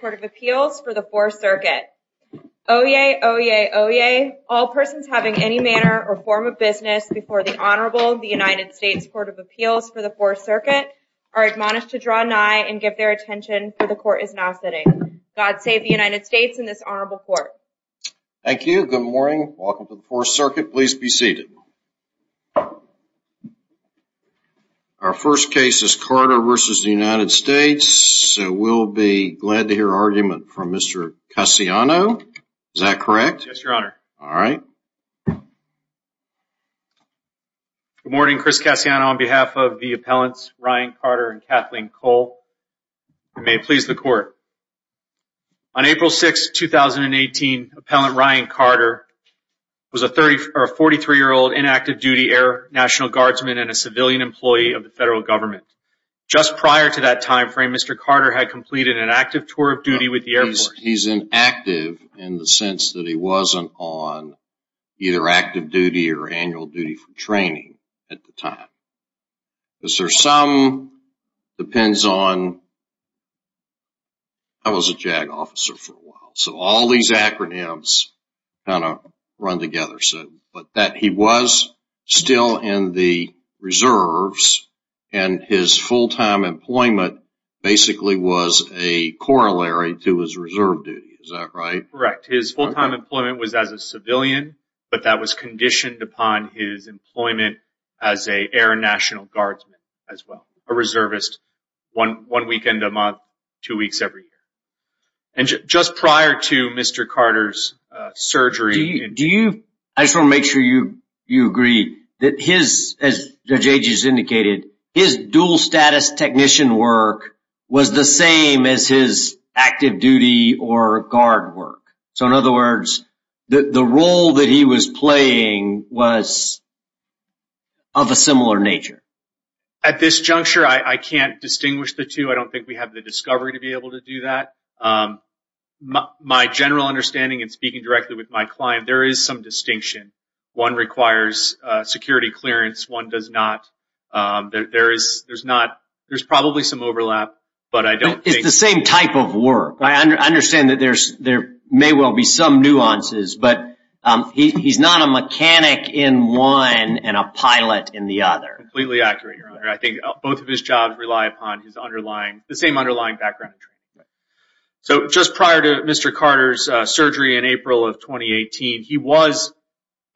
Court of Appeals for the 4th Circuit Oyez! Oyez! Oyez! All persons having any manner or form of business before the Honorable United States Court of Appeals for the 4th Circuit are admonished to draw nigh and give their attention for the Court is now sitting. God save the United States and this Honorable Court. Thank you. Good morning. Welcome to the Court. Our first case is Carter v. United States. We'll be glad to hear argument from Mr. Cassiano. Is that correct? Yes, Your Honor. Alright. Good morning. Chris Cassiano on behalf of the appellants Ryan Carter and Kathleen Cole. May it please the Court. On April 6, 2018, Appellant Ryan Carter was a 43-year-old inactive-duty Air National Guardsman and a civilian employee of the federal government. Just prior to that time frame, Mr. Carter had completed an active tour of duty with the Air Force. He's inactive in the sense that he wasn't on either active duty or annual duty for training at the time. There's some depends on... I was a JAG officer for a while, so all these acronyms kind of run together. But he was still in the reserves and his full-time employment basically was a corollary to his reserve duty. Is that right? Correct. His full-time employment was as a civilian, but that was a reservist one weekend a month, two weeks every year. And just prior to Mr. Carter's surgery... Do you... I just want to make sure you agree that his, as Judge Agee has indicated, his dual-status technician work was the same as his active duty or guard work. So in other I can't distinguish the two. I don't think we have the discovery to be able to do that. My general understanding and speaking directly with my client, there is some distinction. One requires security clearance, one does not. There's probably some overlap, but I don't think... It's the same type of work. I understand that there may well be some nuances, but he's not a mechanic in one and a pilot in the other. Completely accurate, Your Honor. I think both of his jobs rely upon the same underlying background. So just prior to Mr. Carter's surgery in April of 2018, he was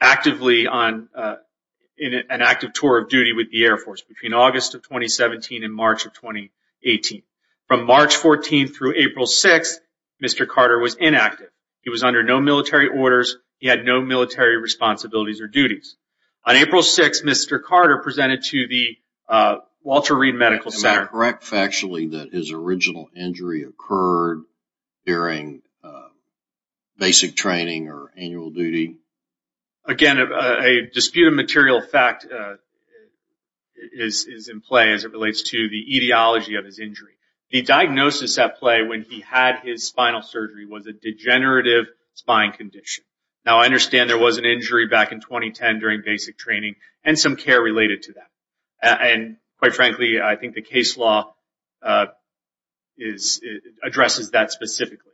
actively on an active tour of duty with the Air Force between August of 2017 and March of 2018. From March 14th through April 6th, Mr. Carter was inactive. He was under no military orders. He had no military responsibilities or duties. On April 6th, Mr. Carter presented to the Walter Reed Medical Center... Am I correct factually that his original injury occurred during basic training or annual duty? Again, a dispute of material fact is in play as it relates to the etiology of his injury. The diagnosis at play when he had his spinal surgery was a degenerative spine condition. Now, I understand there was an injury back in 2010 during basic training and some care related to that. Quite frankly, I think the case law addresses that specifically.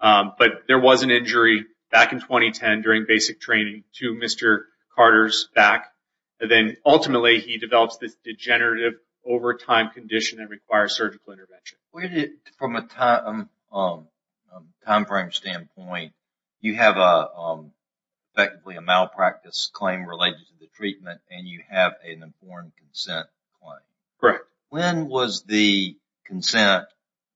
But there was an injury back in 2010 during basic training to Mr. Carter's back. Then, ultimately, he develops this degenerative over time condition that requires surgical intervention. From a time frame standpoint, you have effectively a malpractice claim related to the treatment and you have an informed consent claim. When was the consent,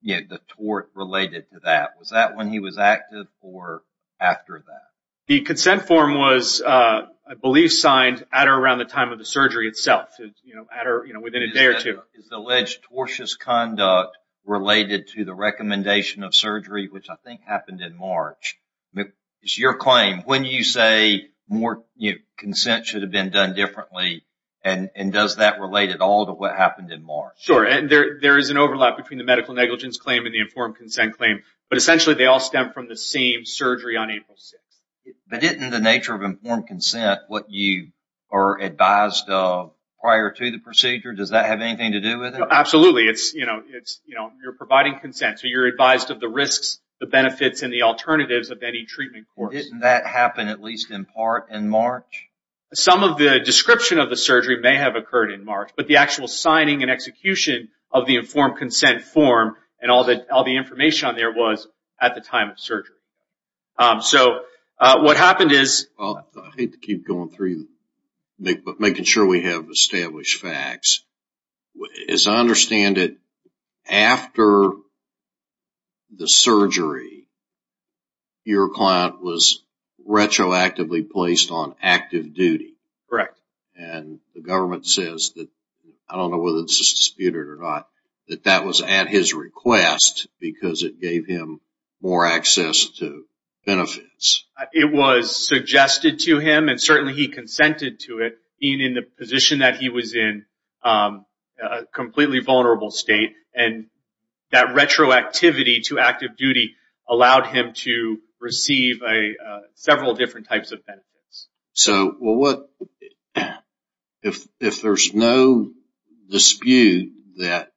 the tort related to that? Was that when he was active or after that? The consent form was, I believe, signed at or around the time of the surgery itself, within a day or two. Is the alleged tortious conduct related to the recommendation of surgery, which I think happened in March? It's your claim. When you say more consent should have been done differently, and does that relate at all to what happened in March? Sure. There is an overlap between the medical negligence claim and the informed consent claim. Essentially, they all stem from the same surgery on April 6th. But didn't the nature of informed consent, what you are advised of prior to the procedure, does that have anything to do with it? Absolutely. You're providing consent, so you're advised of the risks, the benefits, and the alternatives of any treatment course. Didn't that happen at least in part in March? Some of the description of the surgery may have occurred in March, but the actual signing and execution of the informed consent form and all the information on there was at the time of surgery. What happened is... I hate to keep going through, but making sure we have established facts. As I understand it, after the surgery, your client was retroactively placed on active duty. Correct. And the government says that, I don't know whether this is disputed or not, that that was at his request because it gave him more access to benefits. It was suggested to him, and certainly he consented to it, being in the position that he was in, a completely vulnerable state. And that retroactivity to active duty allowed him to receive several different types of benefits. So, if there's no dispute that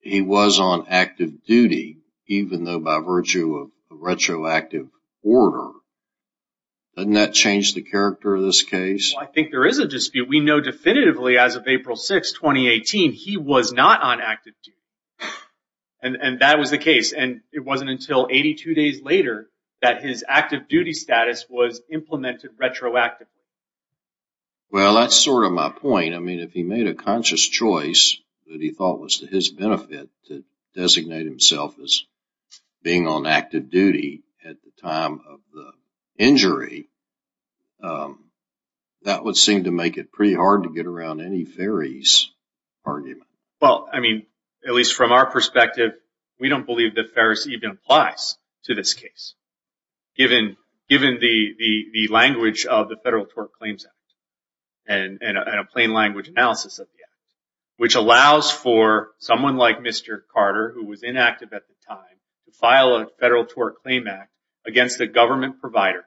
he was on active duty, even though by virtue of retroactive order, doesn't that change the character of this case? I think there is a dispute. We know definitively as of April 6, 2018, he was not on active duty. And that was the case. And it wasn't until 82 days later that his active duty status was implemented retroactively. Well, that's sort of my point. I mean, if he made a conscious choice that he thought was to his benefit to designate himself as being on active duty at the time of the injury, that would seem to make it pretty hard to get around any Ferris argument. Well, I mean, at least from our perspective, we don't believe that Ferris even applies to this case, given the language of the Federal Tort Claims Act and a plain language analysis of the act, which allows for someone like Mr. Carter, who was inactive at the time, to file a Federal Tort Claim Act against a government provider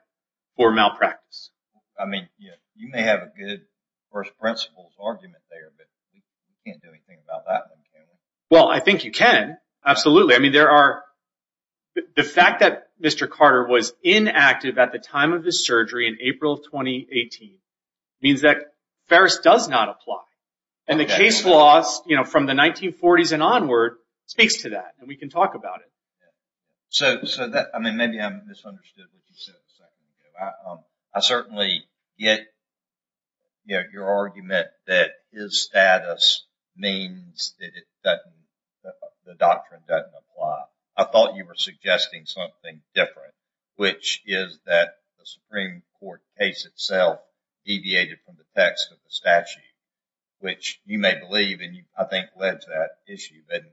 for malpractice. I mean, you may have a good first principles argument there, but you can't do anything about that one, can you? Well, I think you can. Absolutely. I mean, there are... The fact that Mr. Carter was inactive at the time of his surgery in April of 2018 means that Ferris does not apply. And the case laws from the 1940s and onward speaks to that, and we can talk about it. So, I mean, maybe I misunderstood what you said a second ago. I certainly get your argument that his status means that the doctrine doesn't apply. I thought you were suggesting something different, which is that the Supreme Court case itself deviated from the text of the statute, which you may believe, and I think led to that issue. That's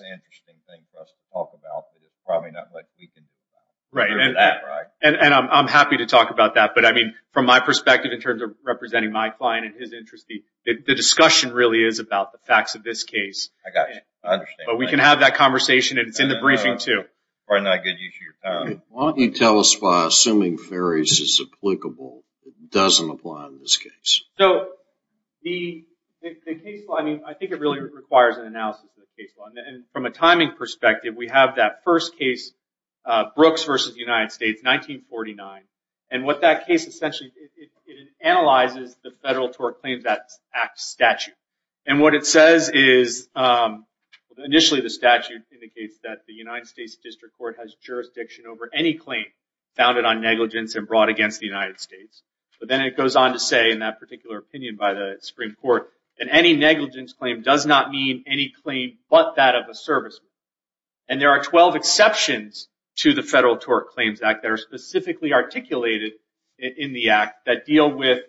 an interesting thing for us to talk about, but it's probably not what we can do about it. Right. And I'm happy to talk about that. But I mean, from my perspective, representing my client and his interest, the discussion really is about the facts of this case. I got you. I understand. But we can have that conversation, and it's in the briefing, too. Probably not a good issue. Why don't you tell us why assuming Ferris is applicable, it doesn't apply in this case? So, the case law, I mean, I think it really requires an analysis of the case law. And from a timing perspective, we have that first case, Brooks v. United States, 1949. And what that case essentially, it analyzes the Federal Tort Claims Act statute. And what it says is, initially, the statute indicates that the United States District Court has jurisdiction over any claim founded on negligence and brought against the United States. But then it goes on to say, in that particular opinion by the Supreme Court, that any negligence claim does not mean any claim but that of a serviceman. And there are 12 exceptions to the Federal Tort Claims Act that are articulated in the act that deal with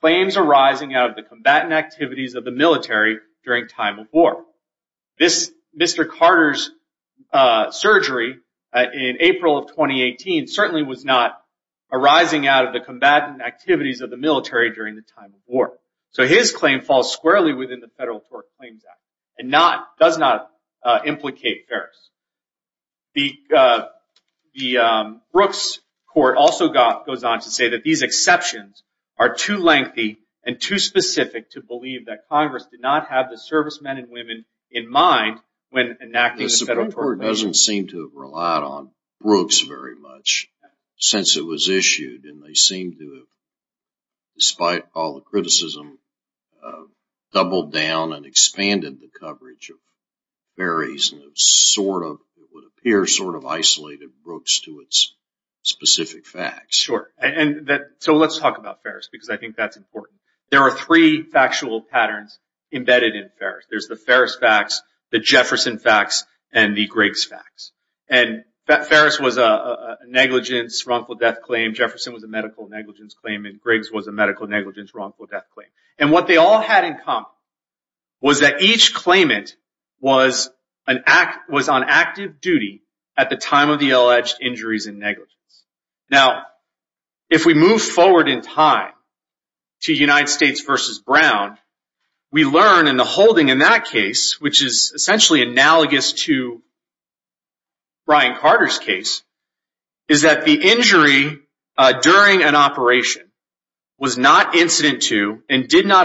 claims arising out of the combatant activities of the military during time of war. This Mr. Carter's surgery in April of 2018 certainly was not arising out of the combatant activities of the military during the time of war. So, his claim falls squarely within the Federal Tort Claims Act and does not implicate Ferris. The Brooks Court also goes on to say that these exceptions are too lengthy and too specific to believe that Congress did not have the servicemen and women in mind when enacting the Federal Tort Claims Act. The Supreme Court doesn't seem to have relied on Brooks very much since it was issued. And they seem to have, despite all the criticism, doubled down and expanded the coverage of what would appear sort of isolated Brooks to its specific facts. Sure. So, let's talk about Ferris because I think that's important. There are three factual patterns embedded in Ferris. There's the Ferris facts, the Jefferson facts, and the Griggs facts. And Ferris was a negligence, wrongful death claim. Jefferson was a medical negligence claim. And Griggs was a medical negligence, wrongful death claim. And what they all had in common was that each claimant was on active duty at the time of the alleged injuries and negligence. Now, if we move forward in time to United States versus Brown, we learn in the holding in that case, which is essentially analogous to Brian Carter's case, is that the injury during an not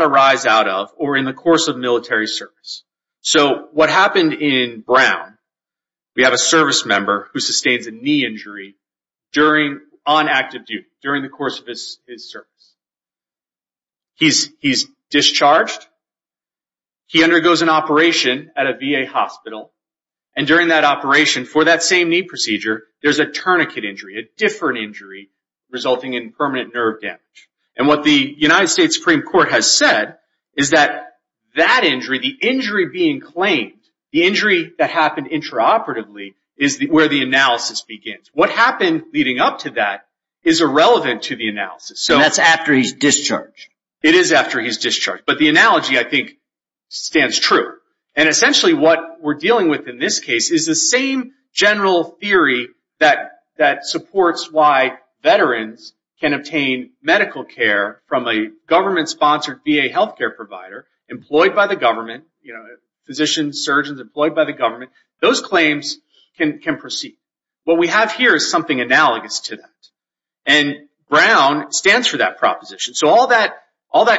arise out of or in the course of military service. So, what happened in Brown, we have a service member who sustains a knee injury on active duty during the course of his service. He's discharged. He undergoes an operation at a VA hospital. And during that operation, for that same knee procedure, there's a tourniquet injury, a different injury resulting in permanent nerve damage. And what the United States Supreme Court has said is that that injury, the injury being claimed, the injury that happened intraoperatively is where the analysis begins. What happened leading up to that is irrelevant to the analysis. So, that's after he's discharged. It is after he's discharged. But the analogy, I think, stands true. And essentially, what we're dealing with in this case is the same general theory that supports why veterans can obtain medical care from a government-sponsored VA healthcare provider employed by the government, you know, physicians, surgeons employed by the government. Those claims can proceed. What we have here is something analogous to that. And Brown stands for that proposition. So, all that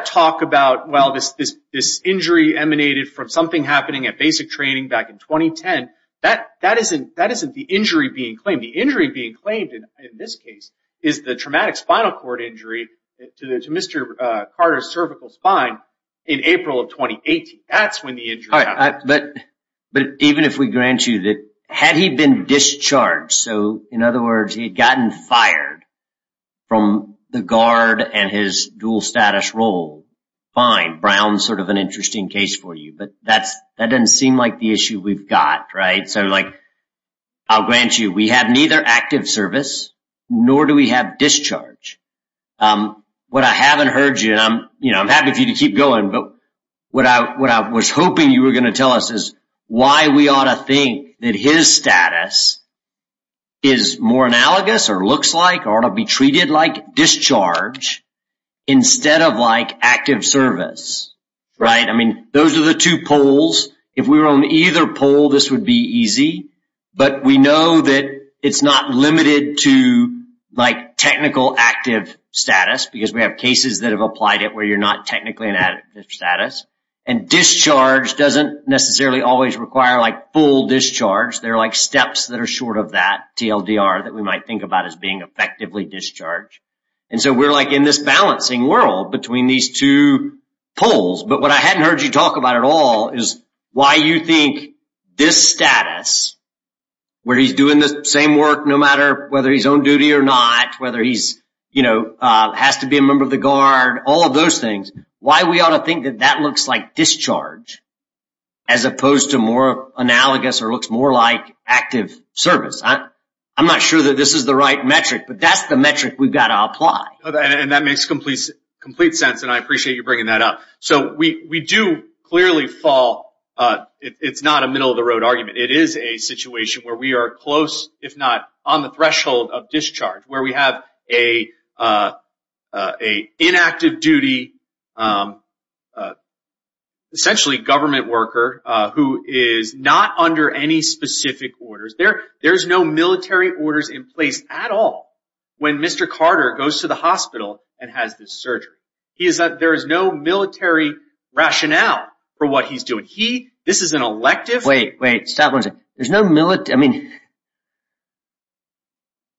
talk about, well, this injury emanated from something happening at basic training back in 2010, that isn't the injury being claimed. The injury being claimed in this case is the traumatic spinal cord injury to Mr. Carter's cervical spine in April of 2018. That's when the injury happened. But even if we grant you that had he been discharged, so in other words, he had gotten fired from the guard and his dual status role, fine. Brown's sort of an interesting case for you. But that doesn't seem like the issue we've got, right? So, like, I'll grant you, we have neither active service, nor do we have discharge. What I haven't heard you, and I'm happy for you to keep going, but what I was hoping you were going to tell us is why we ought to think that his status is more analogous or looks like or ought to be treated like discharge instead of like active service, right? I mean, those are the two poles. If we were on either pole, this would be easy. But we know that it's not limited to, like, technical active status, because we have cases that have applied it where you're not technically in active status. And discharge doesn't necessarily always require, like, full discharge. There are, like, steps that are short of that TLDR that we might think about as being effectively discharged. And so we're, like, in this balancing world between these two poles. But what I hadn't heard you talk about at all is why you think this status, where he's doing the same work no matter whether he's on duty or not, whether he's, you know, has to be a member of the guard, all of those things, why we ought to think that that looks like discharge as opposed to more analogous or looks more like active service. I'm not sure that this is the right metric, but that's the metric we've got to apply. And that makes complete sense. And I appreciate you bringing that up. So we do clearly fall. It's not a middle-of-the-road argument. It is a situation where we are close, if not on the threshold of discharge, where we have a inactive duty, essentially government worker, who is not under any specific orders. There's no military orders in place at all when Mr. Carter goes to the hospital and has this surgery. There is no military rationale for what he's doing. He, this is an elective. Wait, wait, stop, there's no military, I mean,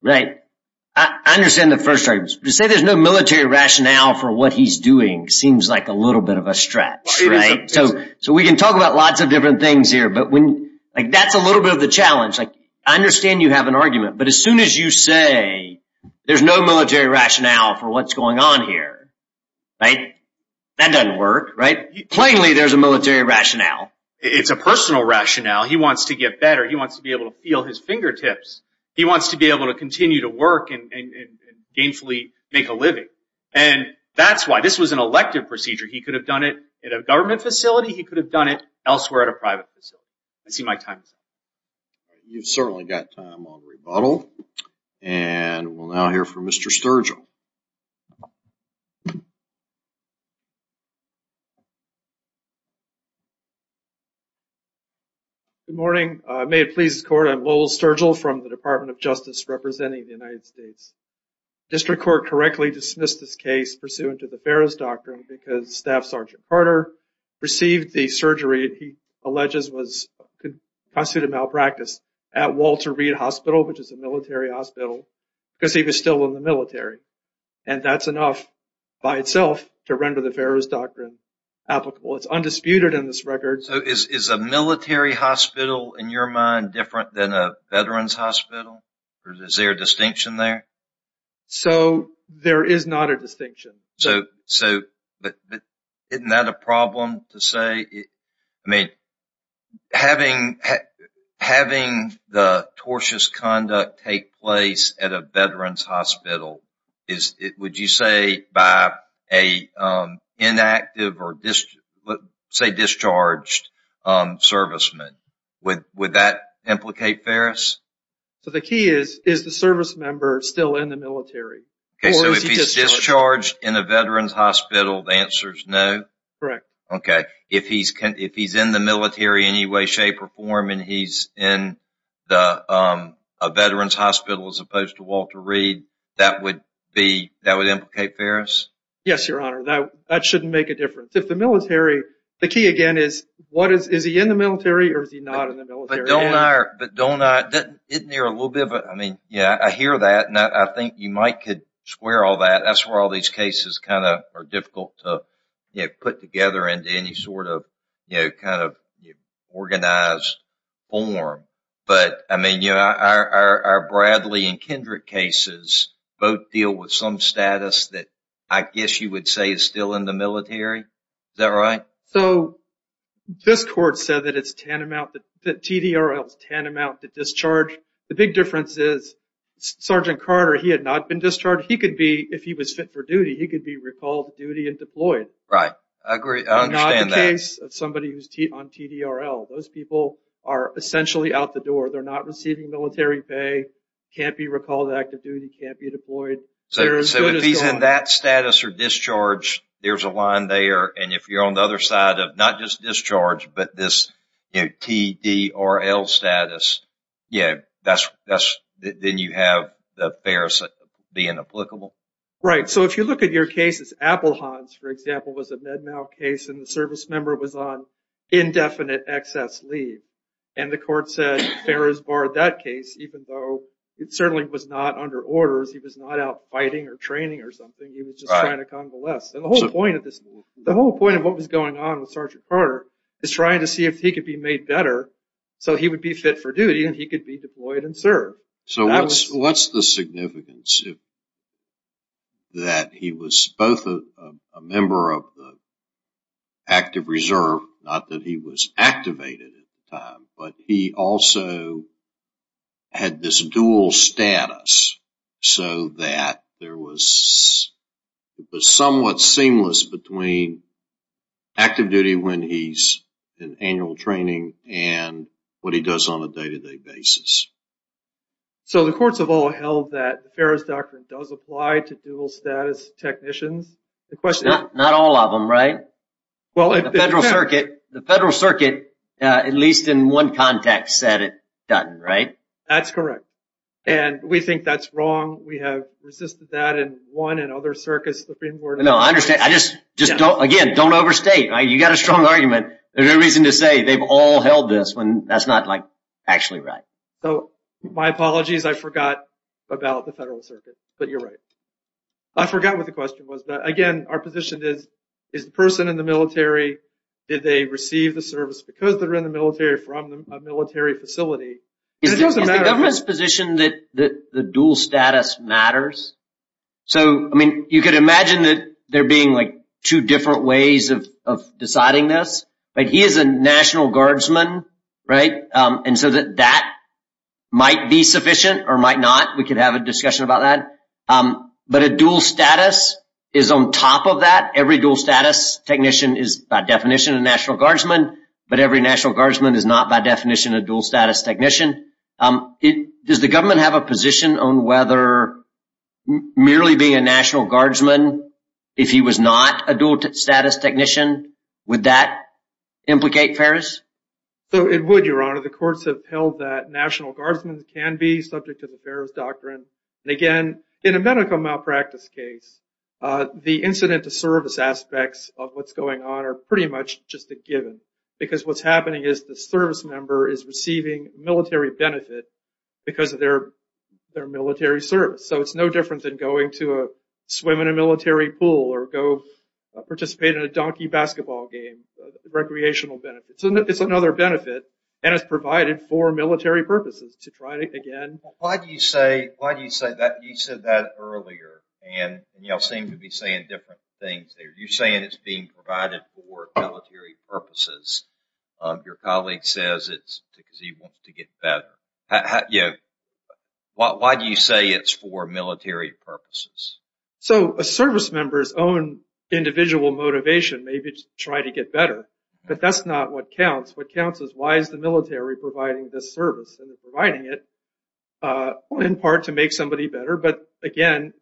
right, I understand the first argument. To say there's no military rationale for what he's doing seems like a little bit of a stretch, right? So we can talk about lots of different things here. But when, like, that's a little bit of the challenge. Like, I understand you have an argument. But as soon as you say there's no military rationale for what's going on here, right, that doesn't work, right? Plainly, there's a military rationale. It's a personal rationale. He wants to get better. He wants to be able to feel his fingertips. He wants to be able to continue to work and gainfully make a living. And that's why this was an elective procedure. He could have done it at a government facility. He could have done it elsewhere at a private facility. Let's see my time. You've certainly got time on rebuttal. And we'll now hear from Mr. Sturgill. Good morning. May it please the court, I'm Lowell Sturgill from the Department of Justice representing the United States. District Court correctly dismissed this case pursuant to the Ferris Doctrine because Staff Sergeant Carter received the surgery he alleges was constituted malpractice at Walter Reed Hospital, which is a military hospital, because he was still in the military. And that's enough by itself to render the Ferris Doctrine applicable. It's undisputed in this record. So is a military hospital, in your mind, different than a veterans hospital? Or is there a distinction there? So there is not a distinction. But isn't that a problem to say? I mean, having the tortious conduct take place at a veterans hospital would you say by an inactive or discharged serviceman? Would that implicate Ferris? So the key is, is the service member still in the military? OK, so if he's discharged in a veterans hospital, the answer is no? Correct. OK. If he's in the military in any way, shape, or form, and he's in a veterans hospital as opposed to Walter Reed, that would implicate Ferris? Yes, Your Honor. That shouldn't make a difference. If the military, the key again is, is he in the military or is he not in the military? But don't I, isn't there a little bit of a, I mean, yeah, I hear that. And I think you might could square all that. That's where all these cases kind of are difficult to put together into any sort of, you know, kind of organized form. But I mean, you know, our Bradley and Kendrick cases both deal with some status that I guess you would say is still in the military. Is that right? So this court said that it's tantamount, that TDRL is tantamount to discharge. The big difference is Sergeant Carter, he had not been discharged. He could be, if he was fit for duty, he could be recalled to duty and deployed. Right, I agree. I understand that. Somebody who's on TDRL, those people are essentially out the door. They're not receiving military pay, can't be recalled to active duty, can't be deployed. So if he's in that status or discharge, there's a line there. And if you're on the other side of not just discharge, but this, you know, TDRL status, yeah, that's, that's, then you have the affairs being applicable. Right. So if you look at your cases, Apple Hans, for example, was a MedMAL case and the service was on indefinite excess leave. And the court said Ferris barred that case, even though it certainly was not under orders. He was not out fighting or training or something. He was just trying to convalesce. And the whole point of this, the whole point of what was going on with Sergeant Carter is trying to see if he could be made better so he would be fit for duty and he could be deployed and served. So what's the significance that he was both a member of the active reserve, not that he was activated at the time, but he also had this dual status so that there was somewhat seamless between active duty when he's in annual training and what he does on a day-to-day basis. So the courts have all held that the Ferris Doctrine does apply to dual status technicians. The question is... Not all of them, right? Well, the Federal Circuit, at least in one context, said it doesn't, right? That's correct. And we think that's wrong. We have resisted that in one and other circuits, the Supreme Court... No, I understand. I just, just don't, again, don't overstate, right? You got a strong argument. There's no reason to say they've all held this when that's not, like, actually right. So my apologies, I forgot about the Federal Circuit, but you're right. I forgot what the question was, but again, our position is, is the person in the military, did they receive the service because they're in the military from a military facility? Is the government's position that the dual status matters? So, I mean, you could imagine that there being, like, two different ways of deciding this. He is a National Guardsman, right? And so that that might be sufficient or might not. We could have a discussion about that. But a dual status is on top of that. Every dual status technician is, by definition, a National Guardsman. But every National Guardsman is not, by definition, a dual status technician. Does the government have a position on whether merely being a National Guardsman, if he was not a dual status technician, would that implicate Ferris? So it would, Your Honor. The courts have held that National Guardsmen can be subject to the Ferris Doctrine. And again, in a medical malpractice case, the incident to service aspects of what's going on are pretty much just a given. Because what's happening is the service member is receiving military benefit because of their military service. So it's no different than going to a swim in a military pool or go participate in a donkey basketball game. Recreational benefits. It's another benefit. And it's provided for military purposes to try it again. Why do you say that? You said that earlier. And you all seem to be saying different things there. You're saying it's being provided for military purposes. Your colleague says it's because he wants to get better. Yeah. Why do you say it's for military purposes? So a service member's own individual motivation may be to try to get better. But that's not what counts. What counts is why is the military providing this service? And they're providing it in part to make somebody better. But again,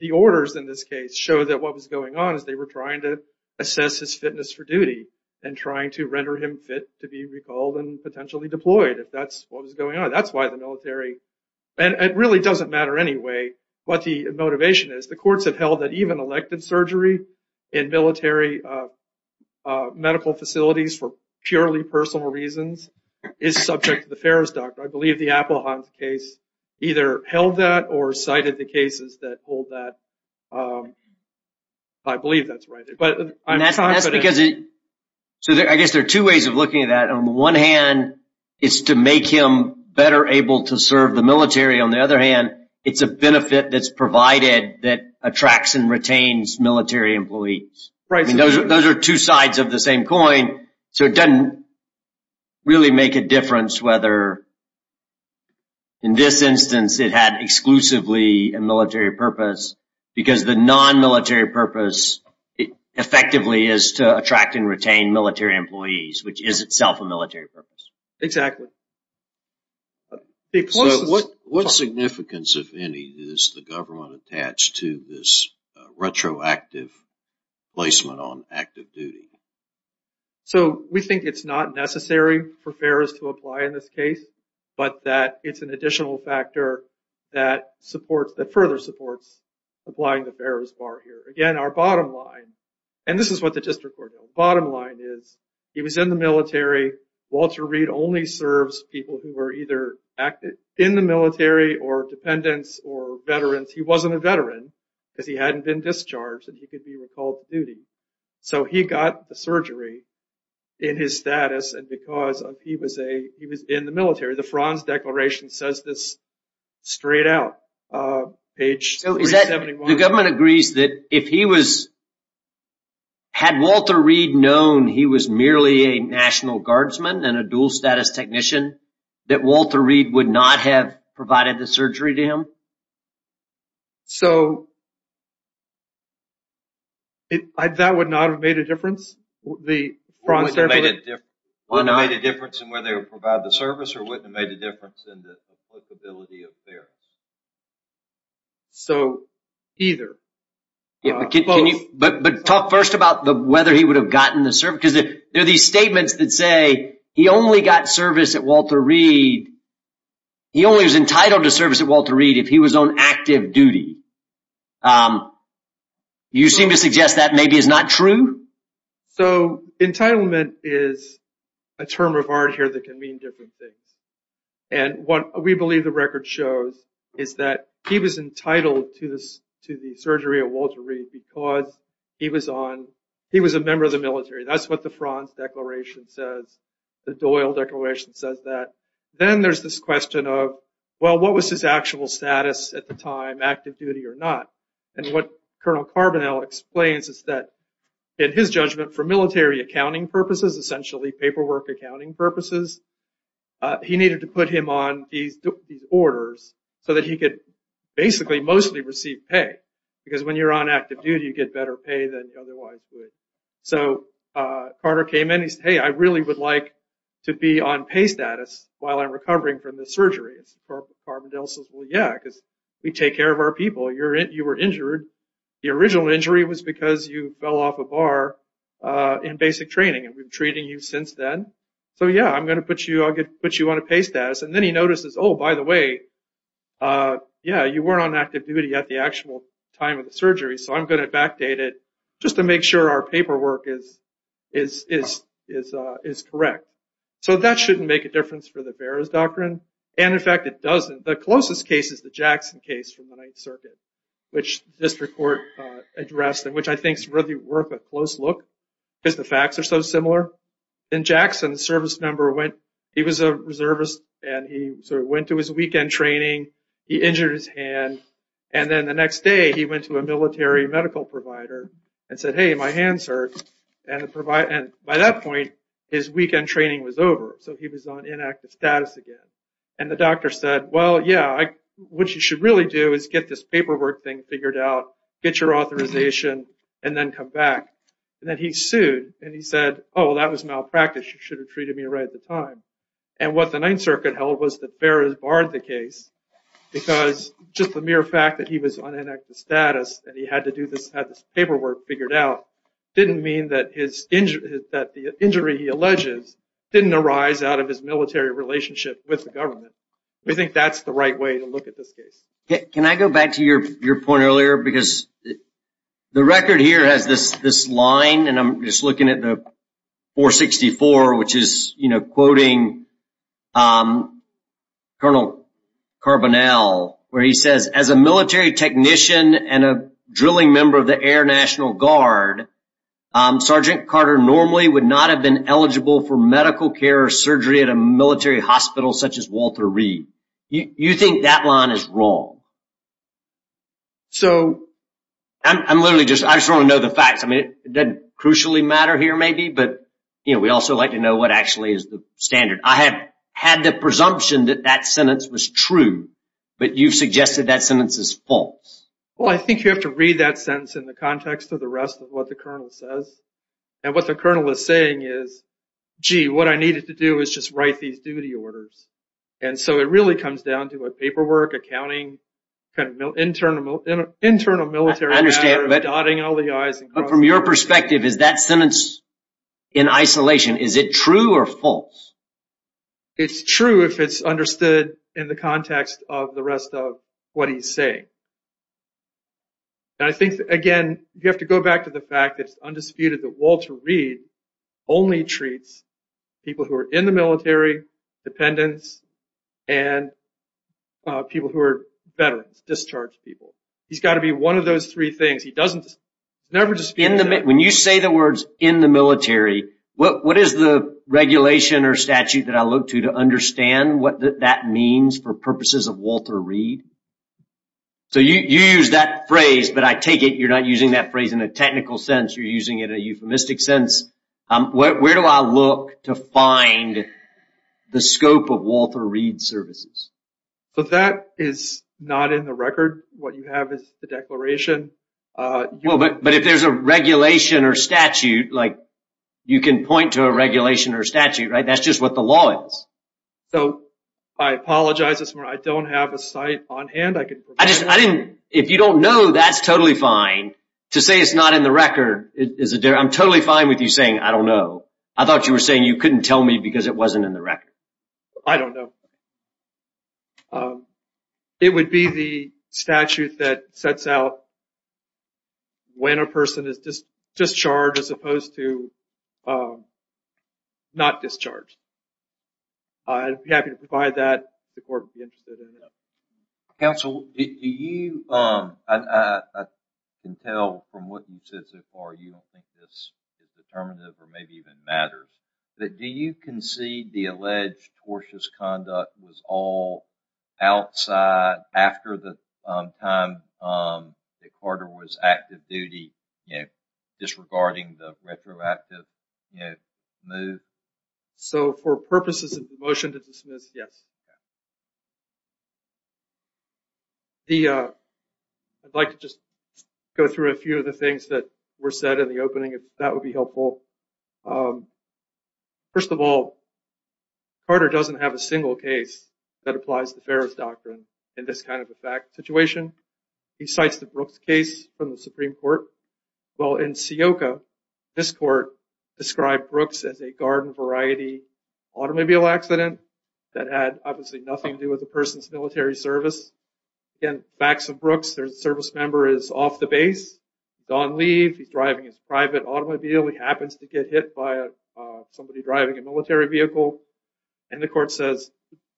the orders in this case show that what was going on is they were trying to assess his fitness for duty and trying to render him fit to be recalled and potentially deployed. If that's what was going on. That's why the military... And it really doesn't matter anyway what the motivation is. The courts have held that even elected surgery in military medical facilities for purely personal reasons is subject to the Farrer's doctrine. I believe the Appelhaus case either held that or cited the cases that hold that. I believe that's right. But I'm confident... That's because... So I guess there are two ways of looking at that. On the one hand, it's to make him better able to serve the military. On the other hand, it's a benefit that's provided that attracts and retains military employees. Right. Those are two sides of the same coin. So it doesn't really make a difference whether... In this instance, it had exclusively a military purpose because the non-military purpose effectively is to attract and retain military employees, which is itself a military purpose. Exactly. What significance, if any, is the government attached to this retroactive placement on active duty? So we think it's not necessary for Farrer's to apply in this case, but that it's an additional factor that supports... That further supports applying the Farrer's bar here. Again, our bottom line... This is what the district court... Bottom line is he was in the military. Walter Reed only serves people who were either in the military or dependents or veterans. He wasn't a veteran because he hadn't been discharged and he could be recalled to duty. So he got the surgery in his status and because he was in the military. The Franz Declaration says this straight out, page 371. The government agrees that if he was... Had Walter Reed known he was merely a National Guardsman and a dual status technician, that Walter Reed would not have provided the surgery to him? So that would not have made a difference? Wouldn't have made a difference in whether he would provide the service or wouldn't have made a difference in the applicability of Farrer's? So, either. Yeah, but can you... But talk first about whether he would have gotten the service because there are these statements that say he only got service at Walter Reed... He only was entitled to service at Walter Reed if he was on active duty. You seem to suggest that maybe is not true? So entitlement is a term of art here that can mean different things. And what we believe the record shows is that he was entitled to the surgery at Walter Reed because he was a member of the military. That's what the Franz Declaration says. The Doyle Declaration says that. Then there's this question of, well, what was his actual status at the time, active duty or not? And what Colonel Carbonell explains is that in his judgment for military accounting purposes, essentially paperwork accounting purposes, he needed to put him on these orders so that he could basically mostly receive pay. Because when you're on active duty, you get better pay than you otherwise would. So Carter came in. He said, hey, I really would like to be on pay status while I'm recovering from this surgery. Carbonell says, well, yeah, because we take care of our people. You were injured. The original injury was because you fell off a bar in basic training. And we've been treating you since then. So yeah, I'm going to put you on a pay status. And then he notices, oh, by the way, yeah, you weren't on active duty at the actual time of the surgery. So I'm going to backdate it just to make sure our paperwork is correct. So that shouldn't make a difference for the Bearer's Doctrine. And in fact, it doesn't. The closest case is the Jackson case from the Ninth Circuit, which district court addressed, and which I think is really worth a close look because the facts are so similar. In Jackson, the service member went, he was a reservist, and he sort of went to his weekend training. He injured his hand. And then the next day, he went to a military medical provider and said, hey, my hand's hurt. And by that point, his weekend training was over. So he was on inactive status again. And the doctor said, well, yeah, what you should really do is get this paperwork thing figured out, get your authorization, and then come back. And then he sued. And he said, oh, well, that was malpractice. You should have treated me right at the time. And what the Ninth Circuit held was that Bearer barred the case because just the mere fact that he was on inactive status and he had to do this, had this paperwork figured out, didn't mean that the injury he alleges didn't arise out of his military relationship with the government. We think that's the right way to look at this case. Can I go back to your point earlier? Because the record here has this line, and I'm just looking at the 464, which is quoting Colonel Carbonell, where he says, as a military technician and a drilling member of the Air National Guard, Sergeant Carter normally would not have been eligible for medical care or surgery at a military hospital such as Walter Reed. You think that line is wrong. So I'm literally just, I just want to know the facts. It doesn't crucially matter here, maybe, but we also like to know what actually is the standard. I have had the presumption that that sentence was true, but you've suggested that sentence is false. Well, I think you have to read that sentence in the context of the rest of what the colonel says. And what the colonel is saying is, gee, what I needed to do is just write these duty orders. And so it really comes down to a paperwork, accounting, internal military matter, dotting all the i's. But from your perspective, is that sentence in isolation? Is it true or false? It's true if it's understood in the context of the rest of what he's saying. And I think, again, you have to go back to the fact that it's undisputed that Walter Reed only treats people who are in the military, dependents, and people who are veterans, discharged people. He's got to be one of those three things. It's never disputed. When you say the words in the military, what is the regulation or statute that I look to to understand what that means for purposes of Walter Reed? So you use that phrase, but I take it you're not using that phrase in a technical sense. You're using it in a euphemistic sense. Where do I look to find the scope of Walter Reed's services? So that is not in the record. What you have is the declaration. But if there's a regulation or statute, you can point to a regulation or statute, right? That's just what the law is. So I apologize, I don't have a site on hand. If you don't know, that's totally fine. To say it's not in the record, I'm totally fine with you saying, I don't know. I thought you were saying you couldn't tell me because it wasn't in the record. I don't know. It would be the statute that sets out when a person is discharged as opposed to not discharged. I'd be happy to provide that if the court would be interested. Counsel, I can tell from what you've said so far, you don't think this is determinative or maybe even matters. But do you concede the alleged tortious conduct was all outside after the time that Carter was active duty, disregarding the retroactive move? So for purposes of the motion to dismiss, yes. I'd like to just go through a few of the things that were said in the opening, if that would be helpful. First of all, Carter doesn't have a single case that applies the Ferris Doctrine in this kind of a situation. He cites the Brooks case from the Supreme Court. Well, in Seoca, this court described Brooks as a garden variety automobile accident that had obviously nothing to do with the person's military service. Again, facts of Brooks, their service member is off the base. Don't leave. He's driving his private automobile. He happens to get hit by somebody driving a military vehicle. And the court says,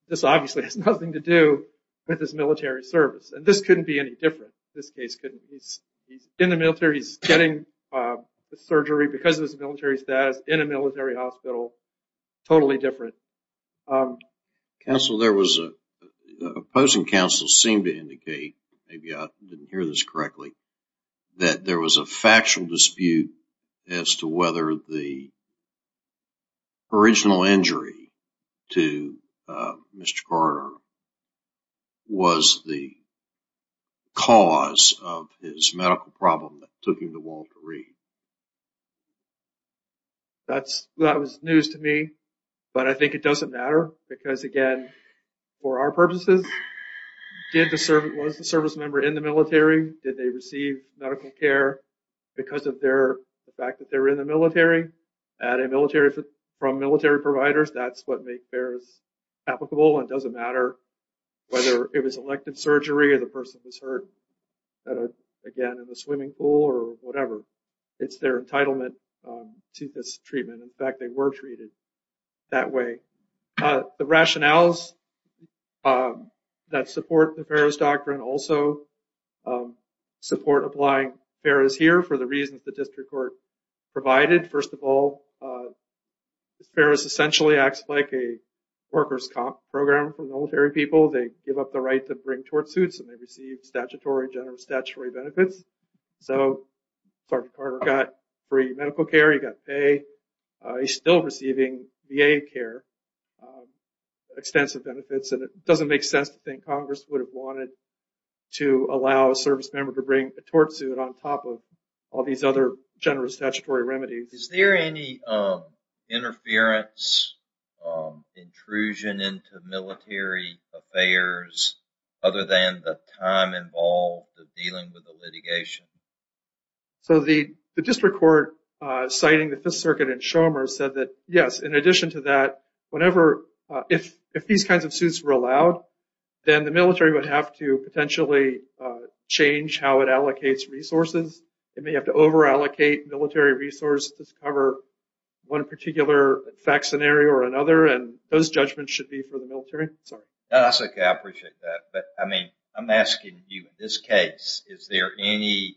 this obviously has nothing to do with his military service. And this couldn't be any different. This case couldn't. He's in the military. He's getting surgery because of his military status in a military hospital. Totally different. Counsel, there was a opposing counsel seemed to indicate, maybe I didn't hear this correctly, that there was a factual dispute as to whether the original injury to Mr. Carter was the cause of his medical problem that took him to Walter Reed. That was news to me. But I think it doesn't matter. Because again, for our purposes, was the service member in the military? Did they receive medical care because of the fact that they were in the military? Had a military from military providers? That's what made Ferris applicable. And it doesn't matter whether it was elected surgery or the person was hurt, again, in the swimming pool or whatever. It's their entitlement to this treatment. In fact, they were treated that way. The rationales that support the Ferris Doctrine also support applying Ferris here for the reasons the district court provided. First of all, Ferris essentially acts like a workers' comp program for military people. They give up the right to bring tort suits. And they receive statutory, general statutory benefits. So Sergeant Carter got free medical care. He got pay. He's still receiving VA care, extensive benefits. And it doesn't make sense to think to allow a service member to bring a tort suit on top of all these other generous statutory remedies. Is there any interference, intrusion into military affairs other than the time involved of dealing with the litigation? So the district court citing the Fifth Circuit and Schomer said that, yes, in addition to that, if these kinds of suits were allowed, then the military would have to potentially change how it allocates resources. It may have to over-allocate military resources to cover one particular fact scenario or another. And those judgments should be for the military. Sorry. That's OK. I appreciate that. But I mean, I'm asking you, in this case, is there any,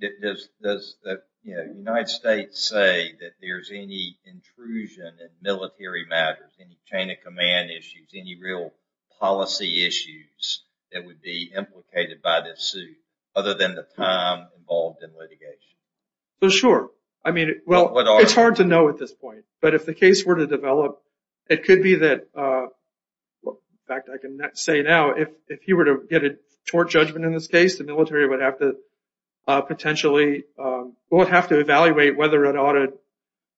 does the United States say that there's any intrusion in military matters, any chain of command issues, any real policy issues that would be implicated by this suit other than the time involved in litigation? Sure. I mean, well, it's hard to know at this point. But if the case were to develop, it could be that, in fact, I can say now, if he were to get a tort judgment in this case, the military would have to potentially, would have to evaluate whether it ought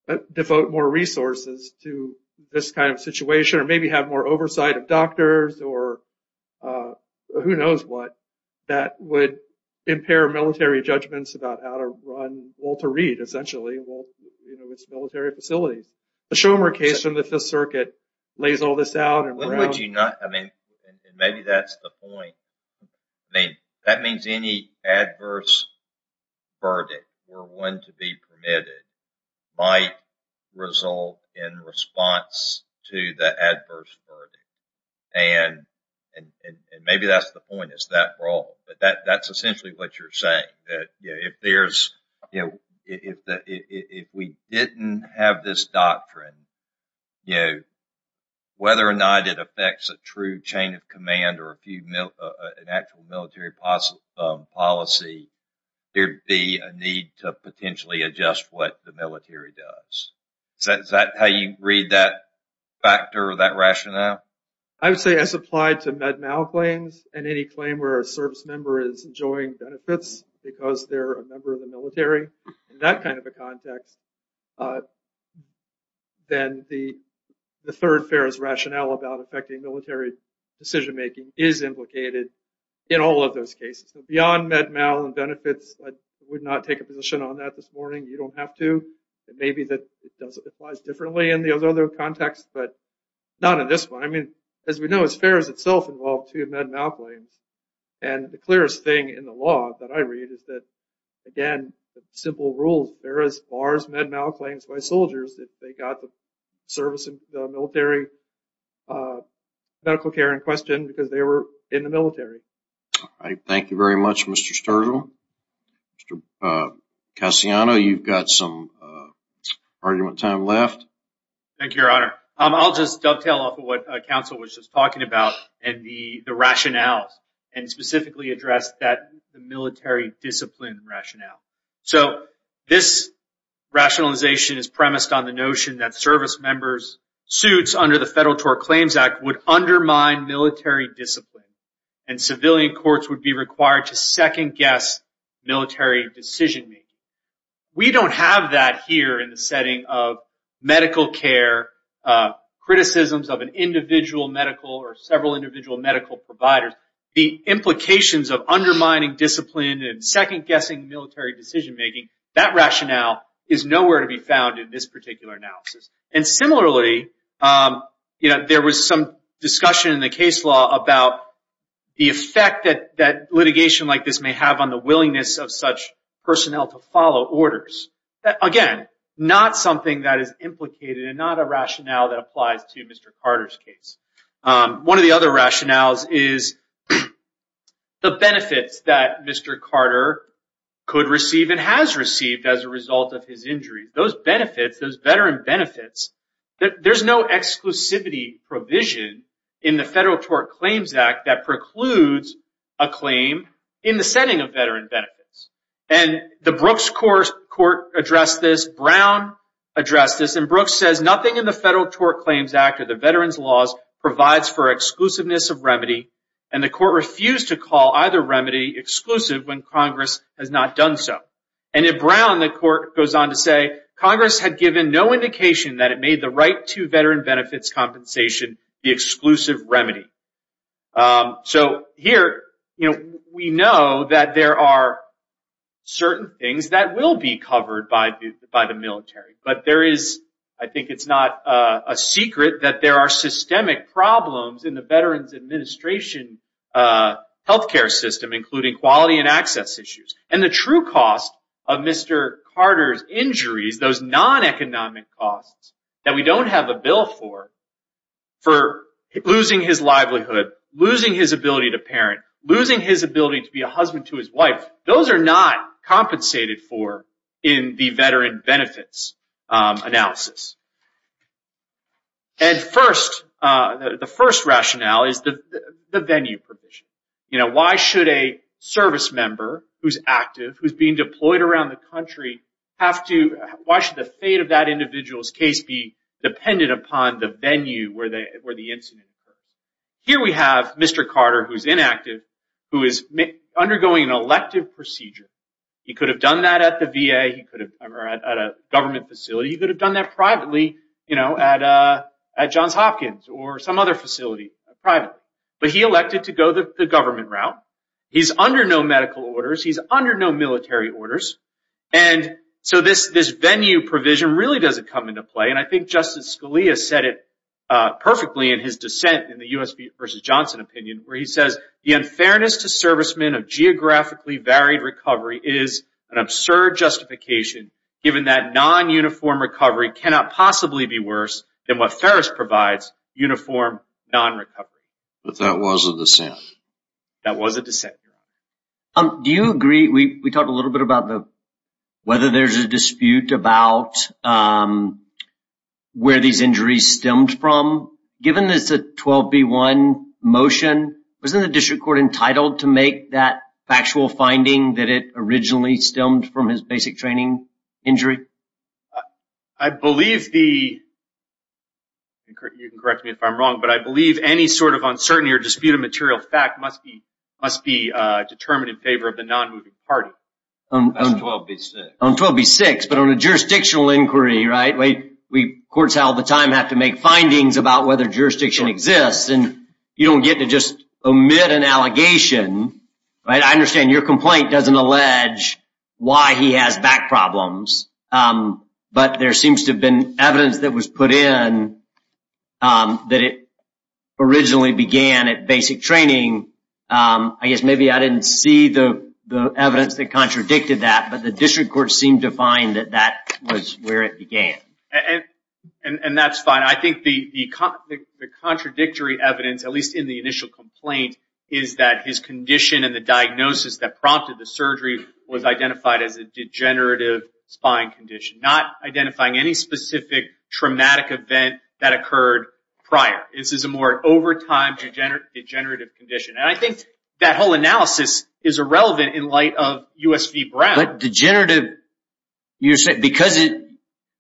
to devote more resources to this kind of situation or maybe have more oversight of doctors or who knows what that would impair military judgments about how to run Walter Reed, essentially, its military facilities. The Schomer case from the Fifth Circuit lays all this out. And what would you not, I mean, and maybe that's the point. That means any adverse verdict were one to be permitted. Might result in response to the adverse verdict. And maybe that's the point. It's that broad. But that's essentially what you're saying. That if there's, if we didn't have this doctrine, whether or not it affects a true chain of command or an actual military policy, there'd be a need to potentially adjust what the military does. Is that how you read that factor or that rationale? I would say as applied to Med-Mal claims and any claim where a service member is enjoying benefits because they're a member of the military, in that kind of a context, then the third fairest rationale about affecting military decision making is implicated in all of those cases. Beyond Med-Mal and benefits, I would not take a position on that this morning. You don't have to. It may be that it applies differently in the other contexts, but not in this one. I mean, as we know, it's fair as itself involved to Med-Mal claims. And the clearest thing in the law that I read is that, again, simple rules. They're as far as Med-Mal claims by soldiers if they got the service, the military medical care in question because they were in the military. Thank you very much, Mr. Sturgill. Mr. Cassiano, you've got some argument time left. Thank you, Your Honor. I'll just dovetail off of what counsel was just talking about and the rationales and specifically address that military discipline rationale. So this rationalization is premised on the notion that service members' suits under the Federal Tort Claims Act would undermine military discipline and civilian courts would be required to second-guess military decision-making. We don't have that here in the setting of medical care, criticisms of an individual medical or several individual medical providers. The implications of undermining discipline and second-guessing military decision-making, that rationale is nowhere to be found in this particular analysis. And similarly, there was some discussion in the case law about the effect that litigation like this may have on the willingness of such personnel to follow orders. Again, not something that is implicated and not a rationale that applies to Mr. Carter's case. One of the other rationales is the benefits that Mr. Carter could receive and has received as a result of his injuries. Those benefits, those veteran benefits, there's no exclusivity provision in the Federal Tort Claims Act that precludes a claim in the setting of veteran benefits. And the Brooks Court addressed this, Brown addressed this, and Brooks says, nothing in the Federal Tort Claims Act or the veterans' laws provides for exclusiveness of remedy. And the court refused to call either remedy exclusive when Congress has not done so. And in Brown, the court goes on to say, Congress had given no indication that it made the right to veteran benefits compensation the exclusive remedy. So here, we know that there are certain things that will be covered by the military. But there is, I think it's not a secret that there are systemic problems in the Veterans Administration healthcare system, including quality and access issues. And the true cost of Mr. Carter's injuries, those non-economic costs that we don't have a bill for losing his livelihood, losing his ability to parent, losing his ability to be a husband to his wife, those are not compensated for in the veteran benefits analysis. And the first rationale is the venue provision. Why should a service member who's active, who's being deployed around the country have to, why should the fate of that individual's case be dependent upon the venue where the incident occurs? Here we have Mr. Carter who's inactive, who is undergoing an elective procedure. He could have done that at the VA, he could have at a government facility, he could have done that privately at Johns Hopkins or some other facility privately. But he elected to go the government route. He's under no medical orders, he's under no military orders. And so this venue provision really doesn't come into play. And I think Justice Scalia said it perfectly in his dissent in the U.S. v. Johnson opinion, where he says, the unfairness to servicemen of geographically varied recovery is an absurd justification given that non-uniform recovery cannot possibly be worse than what Ferris provides, uniform non-recovery. But that was a dissent. That was a dissent. Um, do you agree, we talked a little bit about the, whether there's a dispute about where these injuries stemmed from. Given this 12B1 motion, wasn't the district court entitled to make that factual finding that it originally stemmed from his basic training injury? I believe the, you can correct me if I'm wrong, but I believe any sort of uncertainty or dispute of material fact must be determined in favor of the non-moving party. On 12B6, but on a jurisdictional inquiry, right? We courts all the time have to make findings about whether jurisdiction exists and you don't get to just omit an allegation, right? I understand your complaint doesn't allege why he has back problems. But there seems to have been evidence that was put in that it originally began at basic training. I guess maybe I didn't see the evidence that contradicted that, but the district court seemed to find that that was where it began. And that's fine. I think the contradictory evidence, at least in the initial complaint, is that his condition and the diagnosis that prompted the surgery was identified as a degenerative spine condition, not identifying any specific traumatic event that occurred prior. This is a more overtime degenerative condition. And I think that whole analysis is irrelevant in light of US v. Brown. But degenerative, because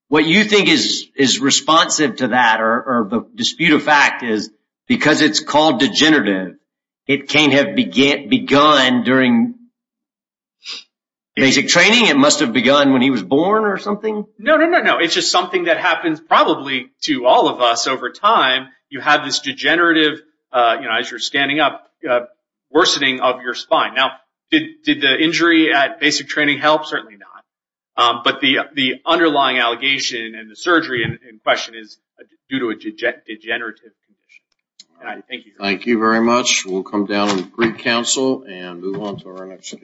what you think is responsive to that or the dispute of fact is because it's called degenerative, it can't have begun during basic training. It must have begun when he was born or something. No, no, no, no. It's just something that happens probably to all of us over time. You have this degenerative, as you're standing up, worsening of your spine. Now, did the injury at basic training help? Certainly not. But the underlying allegation and the surgery in question is due to a degenerative condition. Thank you. Thank you very much. We'll come down and greet counsel and move on to our next case.